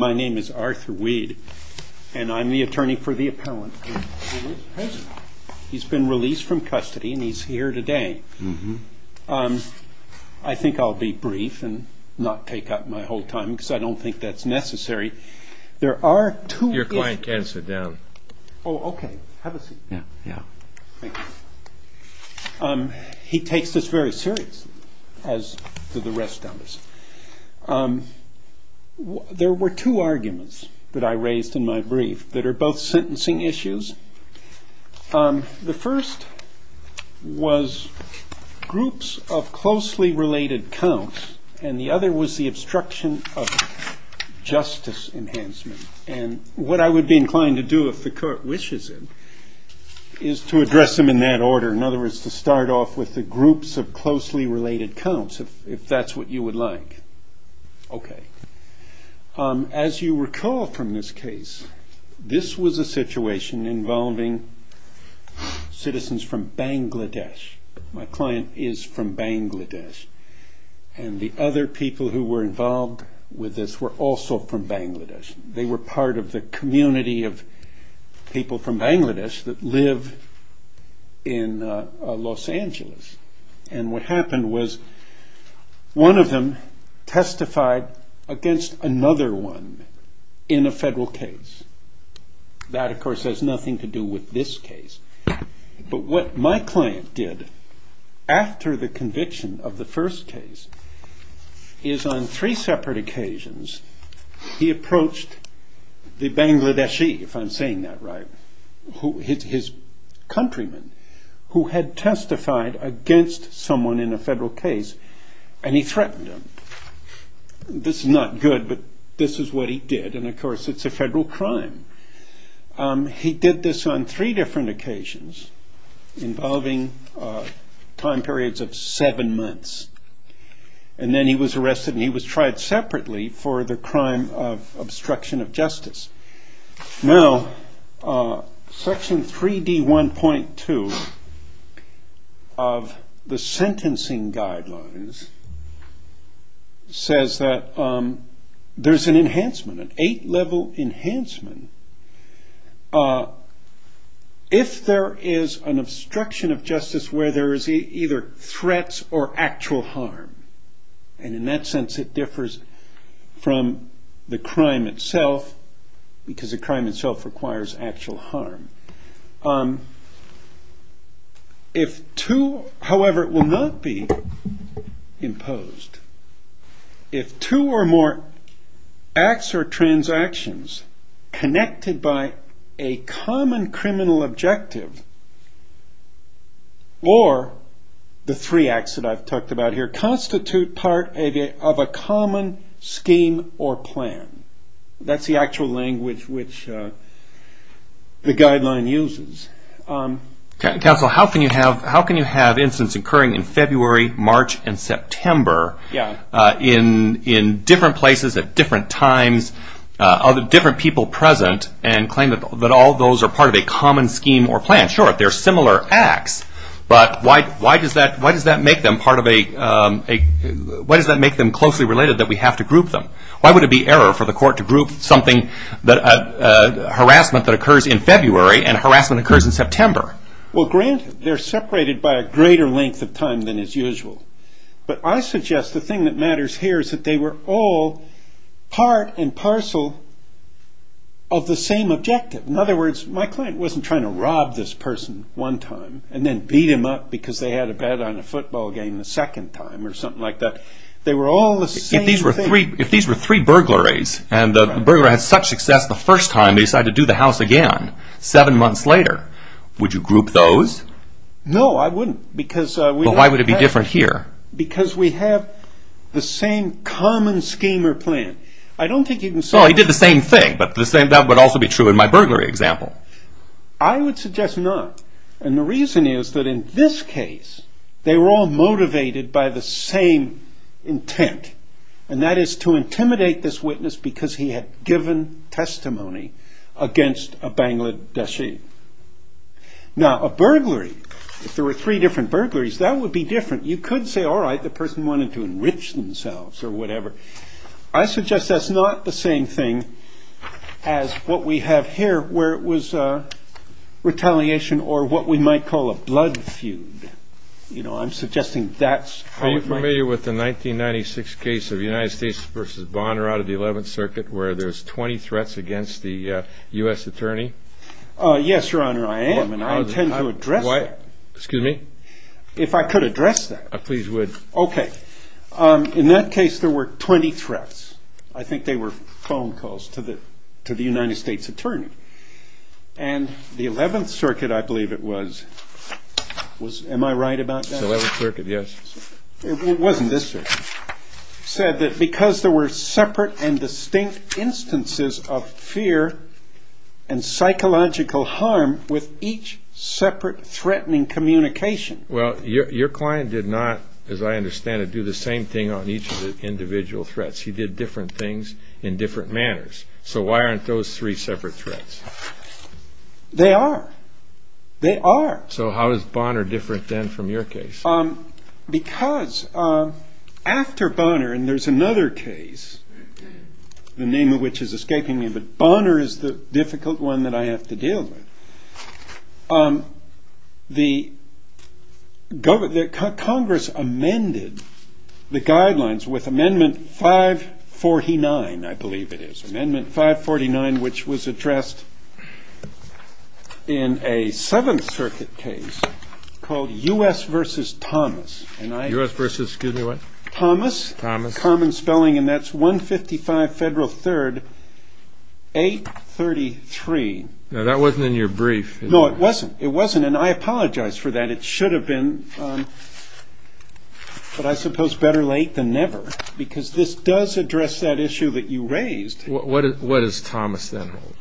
My name is Arthur Weed and I'm the attorney for the appellant. He's been released from custody and he's here today. I think I'll be brief and not take up my whole time because I don't think that's necessary. He takes this very seriously as do the rest of us. There were two arguments that I raised in my brief that are both sentencing issues. The first was groups of closely related counts and the other was the obstruction of justice. What I would be inclined to do, if the court wishes it, is to address them in that order. In other words, to start off with the groups of closely related counts, if that's what you would like. As you recall from this case, this was a situation involving citizens from Bangladesh. My client is from Bangladesh and the other people who were involved with this were also from Bangladesh. They were part of the community of people from Bangladesh that live in Los Angeles. What happened was one of them testified against another one in a federal case. That, of course, has nothing to do with this case. What my client did after the conviction of the first case is on three separate occasions, he approached the Bangladeshi, if I'm saying that right, his countrymen, who had testified against another person in a federal case. He threatened them. This is not good, but this is what he did. Of course, it's a federal crime. He did this on three different occasions involving time periods of seven months. Then he was arrested and he was tried separately for the crime of obstruction of justice. Section 3D1.2 of the sentencing guidelines says that there's an enhancement, an eight level enhancement. If there is an obstruction of justice where there is either threats or actual harm, and in that sense it differs from the crime itself, because the crime itself requires actual harm. However, it will not be imposed if two or more acts or transactions connected by a common criminal objective or the three acts that I've talked about here constitute part of a common scheme or plan. That's the actual language which the guideline uses. Counsel, how can you have incidents occurring in February, March, and September in different places at different times, different people present, and claim that all those are part of a common scheme or plan? I'm not sure if they're similar acts, but why does that make them closely related that we have to group them? Why would it be error for the court to group something, harassment that occurs in February, and harassment that occurs in September? Well, granted, they're separated by a greater length of time than is usual, but I suggest the thing that matters here is that they were all part and parcel of the same objective. In other words, my client wasn't trying to rob this person one time and then beat him up because they had a bet on a football game the second time or something like that. If these were three burglaries and the burglar had such success the first time, they decided to do the house again seven months later, would you group those? No, I wouldn't. Well, why would it be different here? Because we have the same common scheme or plan. He did the same thing, but that would also be true in my burglary example. I would suggest not, and the reason is that in this case, they were all motivated by the same intent, and that is to intimidate this witness because he had given testimony against a Bangladeshi. Now, a burglary, if there were three different burglaries, that would be different. You could say, all right, the person wanted to enrich themselves or whatever. I suggest that's not the same thing as what we have here where it was retaliation or what we might call a blood feud. Are you familiar with the 1996 case of United States v. Bonner out of the 11th Circuit where there's 20 threats against the U.S. Attorney? Yes, Your Honor, I am, and I intend to address that. Excuse me? If I could address that. Please would. In that case, there were 20 threats. I think they were phone calls to the United States Attorney, and the 11th Circuit, I believe it was, am I right about that? 11th Circuit, yes. It wasn't this circuit. It said that because there were separate and distinct instances of fear and psychological harm with each separate threatening communication. Well, your client did not, as I understand it, do the same thing on each of the individual threats. He did different things in different manners. So why aren't those three separate threats? They are. They are. So how is Bonner different then from your case? Because after Bonner, and there's another case, the name of which is escaping me, but Bonner is the difficult one that I have to deal with. Congress amended the guidelines with Amendment 549, I believe it is. Amendment 549, which was addressed in a 7th Circuit case called U.S. v. Thomas. U.S. v. excuse me, what? Thomas. Thomas. Common spelling, and that's 155 Federal 3rd, 833. No, that wasn't in your brief. No, it wasn't, and I apologize for that. It should have been, but I suppose better late than never, because this does address that issue that you raised. What does Thomas then hold?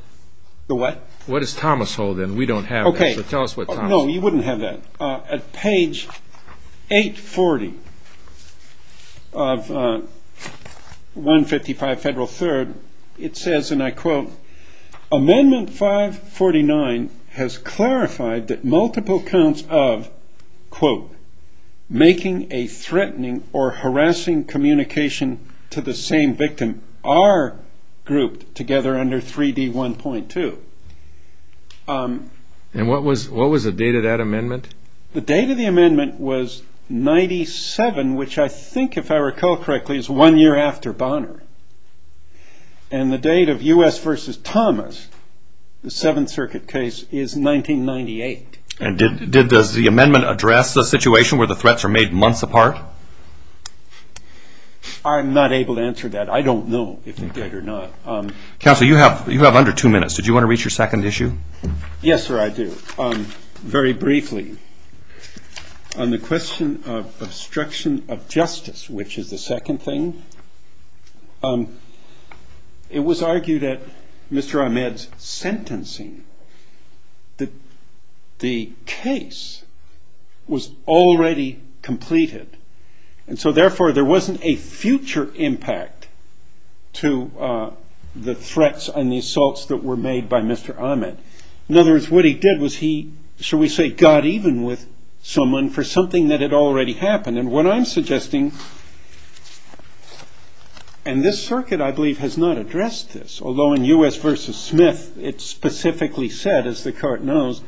The what? What does Thomas hold, and we don't have that. No, you wouldn't have that. At page 840 of 155 Federal 3rd, it says, and I quote, Amendment 549 has clarified that multiple counts of, quote, making a threatening or harassing communication to the same victim are grouped together under 3D1.2. And what was the date of that amendment? The date of the amendment was 97, which I think, if I recall correctly, is one year after Bonner. And the date of U.S. v. Thomas, the 7th Circuit case, is 1998. And did the amendment address the situation where the threats are made months apart? I'm not able to answer that. I don't know if it did or not. Counsel, you have under two minutes. Did you want to reach your second issue? Yes, sir, I do. Very briefly, on the question of obstruction of justice, which is the second thing, it was argued at Mr. Ahmed's sentencing that the case was already completed. And so, therefore, there wasn't a future impact to the threats and the assaults that were made by Mr. Ahmed. In other words, what he did was he, shall we say, got even with someone for something that had already happened. And what I'm suggesting, and this circuit, I believe, has not addressed this, although in U.S. v. Smith it specifically said, as the court knows,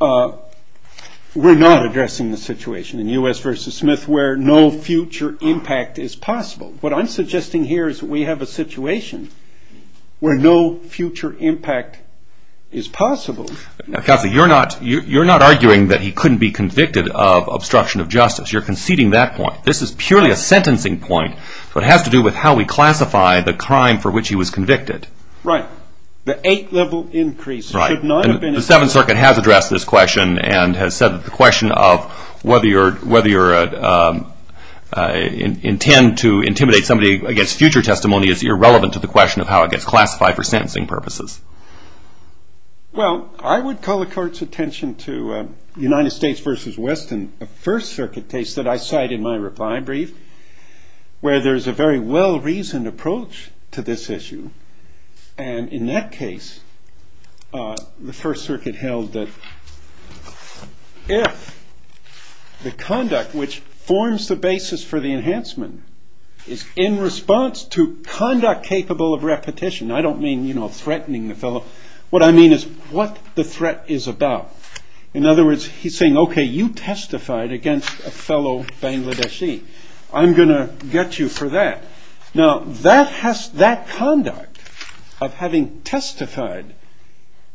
we're not addressing the situation. In U.S. v. Smith, where no future impact is possible. What I'm suggesting here is we have a situation where no future impact is possible. Counsel, you're not arguing that he couldn't be convicted of obstruction of justice. You're conceding that point. This is purely a sentencing point. It has to do with how we classify the crime for which he was convicted. Right. The eight-level increase should not have been... The Seventh Circuit has addressed this question and has said that the question of whether you intend to intimidate somebody against future testimony is irrelevant to the question of how it gets classified for sentencing purposes. Well, I would call the court's attention to United States v. Weston, a First Circuit case that I cite in my reply brief, where there's a very well-reasoned approach to this issue. And in that case, the First Circuit held that if the conduct which forms the basis for the enhancement is in response to conduct capable of repetition, I don't mean threatening the fellow. What I mean is what the threat is about. In other words, he's saying, okay, you testified against a fellow Bangladeshi. I'm going to get you for that. Now, that conduct of having testified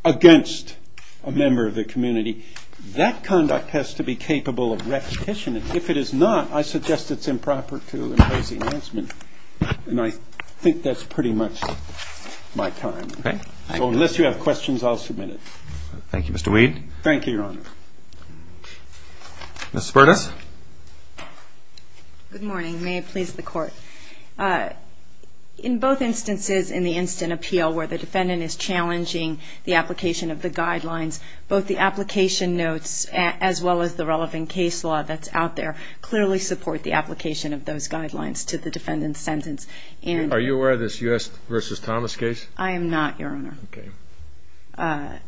against a member of the community, that conduct has to be capable of repetition. And if it is not, I suggest it's improper to impose enhancement. And I think that's pretty much my time. Okay. So unless you have questions, I'll submit it. Thank you, Mr. Weed. Thank you, Your Honor. Ms. Spertus. Good morning. May it please the Court. In both instances in the instant appeal where the defendant is challenging the application of the guidelines, both the application notes as well as the relevant case law that's out there clearly support the application of those guidelines to the defendant's sentence. Are you aware of this U.S. v. Thomas case? I am not, Your Honor. Okay.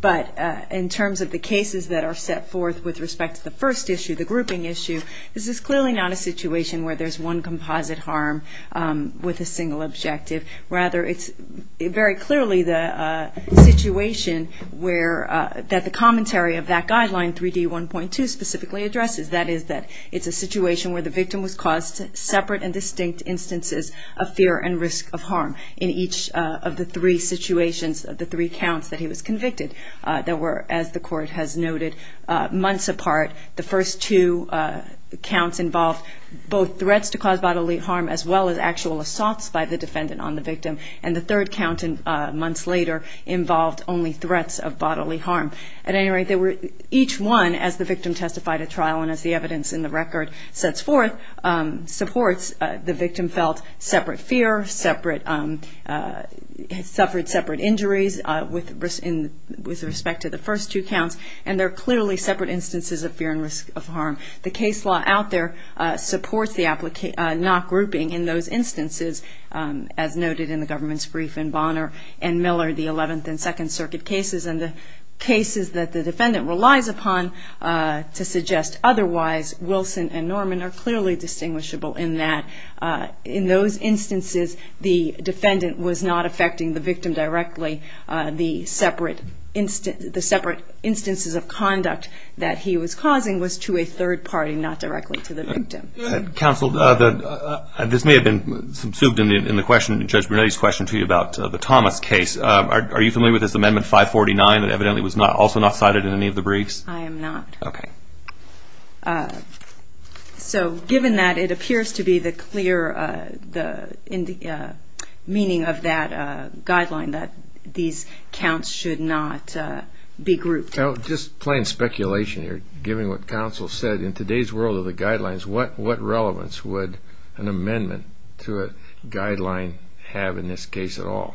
But in terms of the cases that are set forth with respect to the first issue, the grouping issue, this is clearly not a situation where there's one composite harm with a single objective. Rather, it's very clearly the situation that the commentary of that guideline, 3D1.2, specifically addresses. That is that it's a situation where the victim was caused separate and distinct instances of fear and risk of harm. In each of the three situations, the three counts that he was convicted, there were, as the Court has noted, months apart. The first two counts involved both threats to cause bodily harm as well as actual assaults by the defendant on the victim. And the third count, months later, involved only threats of bodily harm. At any rate, each one, as the victim testified at trial and as the evidence in the record sets forth, supports the victim felt separate fear, suffered separate injuries with respect to the first two counts, and they're clearly separate instances of fear and risk of harm. The case law out there supports the not grouping in those instances, as noted in the government's brief in Bonner and Miller, the Eleventh and Second Circuit cases, and the cases that the defendant relies upon to suggest otherwise. Wilson and Norman are clearly distinguishable in that in those instances, the defendant was not affecting the victim directly. The separate instances of conduct that he was causing was to a third party, not directly to the victim. Counsel, this may have been subsumed in Judge Brunetti's question to you about the Thomas case. Are you familiar with this Amendment 549 that evidently was also not cited in any of the briefs? I am not. Okay. So given that, it appears to be the clear meaning of that guideline that these counts should not be grouped. Just plain speculation here, given what counsel said, in today's world of the guidelines, what relevance would an amendment to a guideline have in this case at all?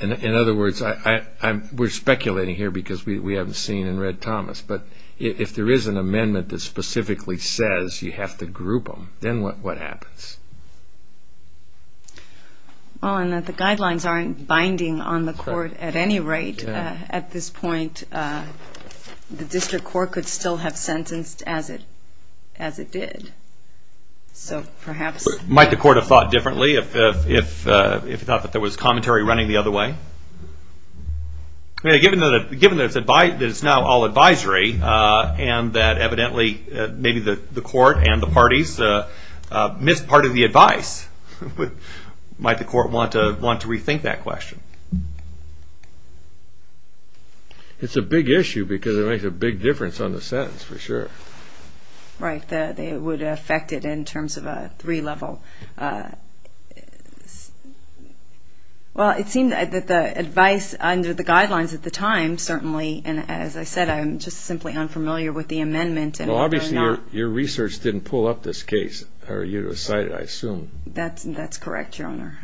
In other words, we're speculating here because we haven't seen and read Thomas, but if there is an amendment that specifically says you have to group them, then what happens? The guidelines aren't binding on the court at any rate at this point. The district court could still have sentenced as it did. Might the court have thought differently if it thought that there was commentary running the other way? Given that it's now all advisory and that evidently maybe the court and the parties missed part of the advice, might the court want to rethink that question? It's a big issue because it makes a big difference on the sentence for sure. Right. It would affect it in terms of a three-level. Well, it seemed that the advice under the guidelines at the time certainly, and as I said, I'm just simply unfamiliar with the amendment. Well, obviously your research didn't pull up this case, or you cited it, I assume. That's correct, Your Honor.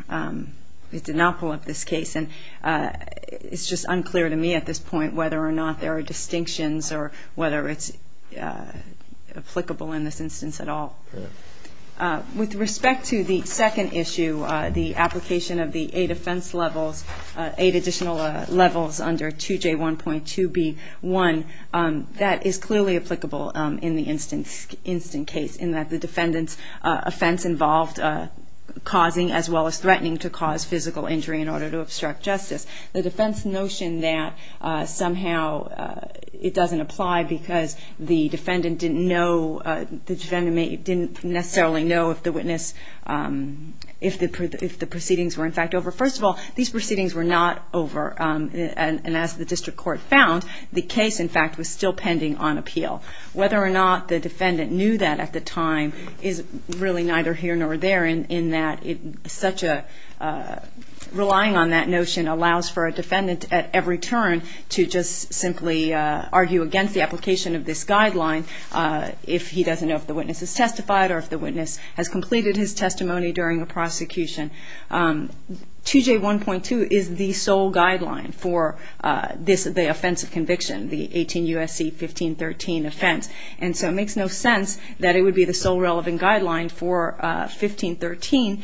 It did not pull up this case, and it's just unclear to me at this point whether or not there are distinctions or whether it's applicable in this instance at all. With respect to the second issue, the application of the eight defense levels, eight additional levels under 2J1.2B1, that is clearly applicable in the instant case, in that the defendant's offense involved causing as well as threatening to cause physical injury in order to obstruct justice. The defense notion that somehow it doesn't apply because the defendant didn't know, the defendant didn't necessarily know if the witness, if the proceedings were in fact over. First of all, these proceedings were not over, and as the district court found, the case, in fact, was still pending on appeal. Whether or not the defendant knew that at the time is really neither here nor there, in that such a relying on that notion allows for a defendant at every turn to just simply argue against the application of this guideline. If he doesn't know if the witness has testified or if the witness has completed his testimony during a prosecution. 2J1.2 is the sole guideline for this, the offense of conviction, the 18 U.S.C. 1513 offense, and so it makes no sense that it would be the sole relevant guideline for 1513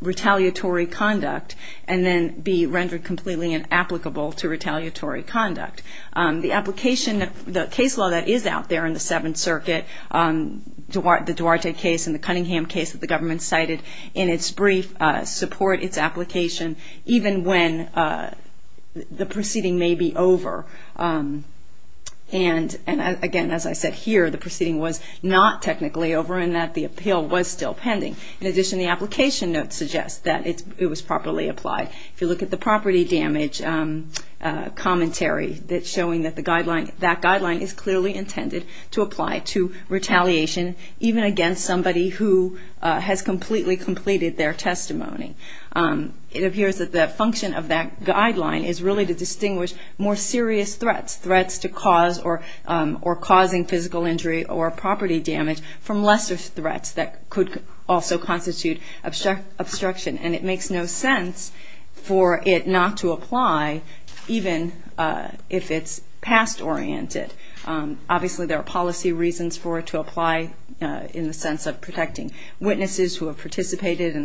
retaliatory conduct and then be rendered completely inapplicable to retaliatory conduct. The application, the case law that is out there in the Seventh Circuit, the Duarte case and the Cunningham case that the government cited in its brief support its application even when the proceeding may be over. And again, as I said here, the proceeding was not technically over in that the appeal was still pending. In addition, the application note suggests that it was properly applied. If you look at the property damage commentary that's showing that the guideline, that guideline is clearly intended to apply to retaliation even against somebody who has completely completed their testimony. It appears that the function of that guideline is really to distinguish more serious threats, threats to cause or causing physical injury or property damage from lesser threats that could also constitute obstruction. And it makes no sense for it not to apply even if it's past oriented. Obviously, there are policy reasons for it to apply in the sense of protecting witnesses who have participated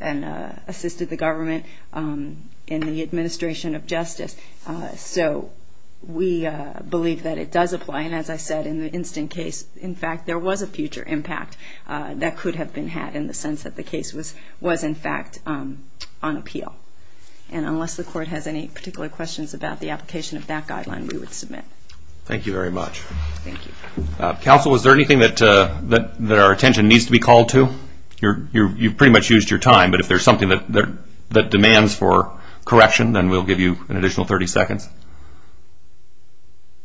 and assisted the government in the administration of justice. So we believe that it does apply. And as I said in the instant case, in fact, there was a future impact that could have been had in the sense that the case was in fact on appeal. And unless the court has any particular questions about the application of that guideline, we would submit. Thank you very much. Thank you. Counsel, is there anything that our attention needs to be called to? You've pretty much used your time, but if there's something that demands for correction, then we'll give you an additional 30 seconds.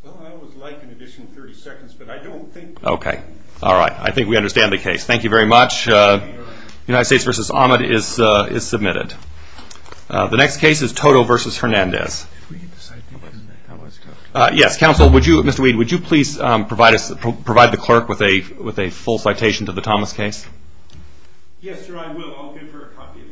Well, I would like an additional 30 seconds, but I don't think... Okay. All right. I think we understand the case. Thank you very much. United States v. Ahmed is submitted. The next case is Toto v. Hernandez. Yes, counsel, would you, Mr. Weed, would you please provide the clerk with a full citation to the Thomas case? Yes, sir, I will. I'll give her a copy of the case. Okay. Thank you.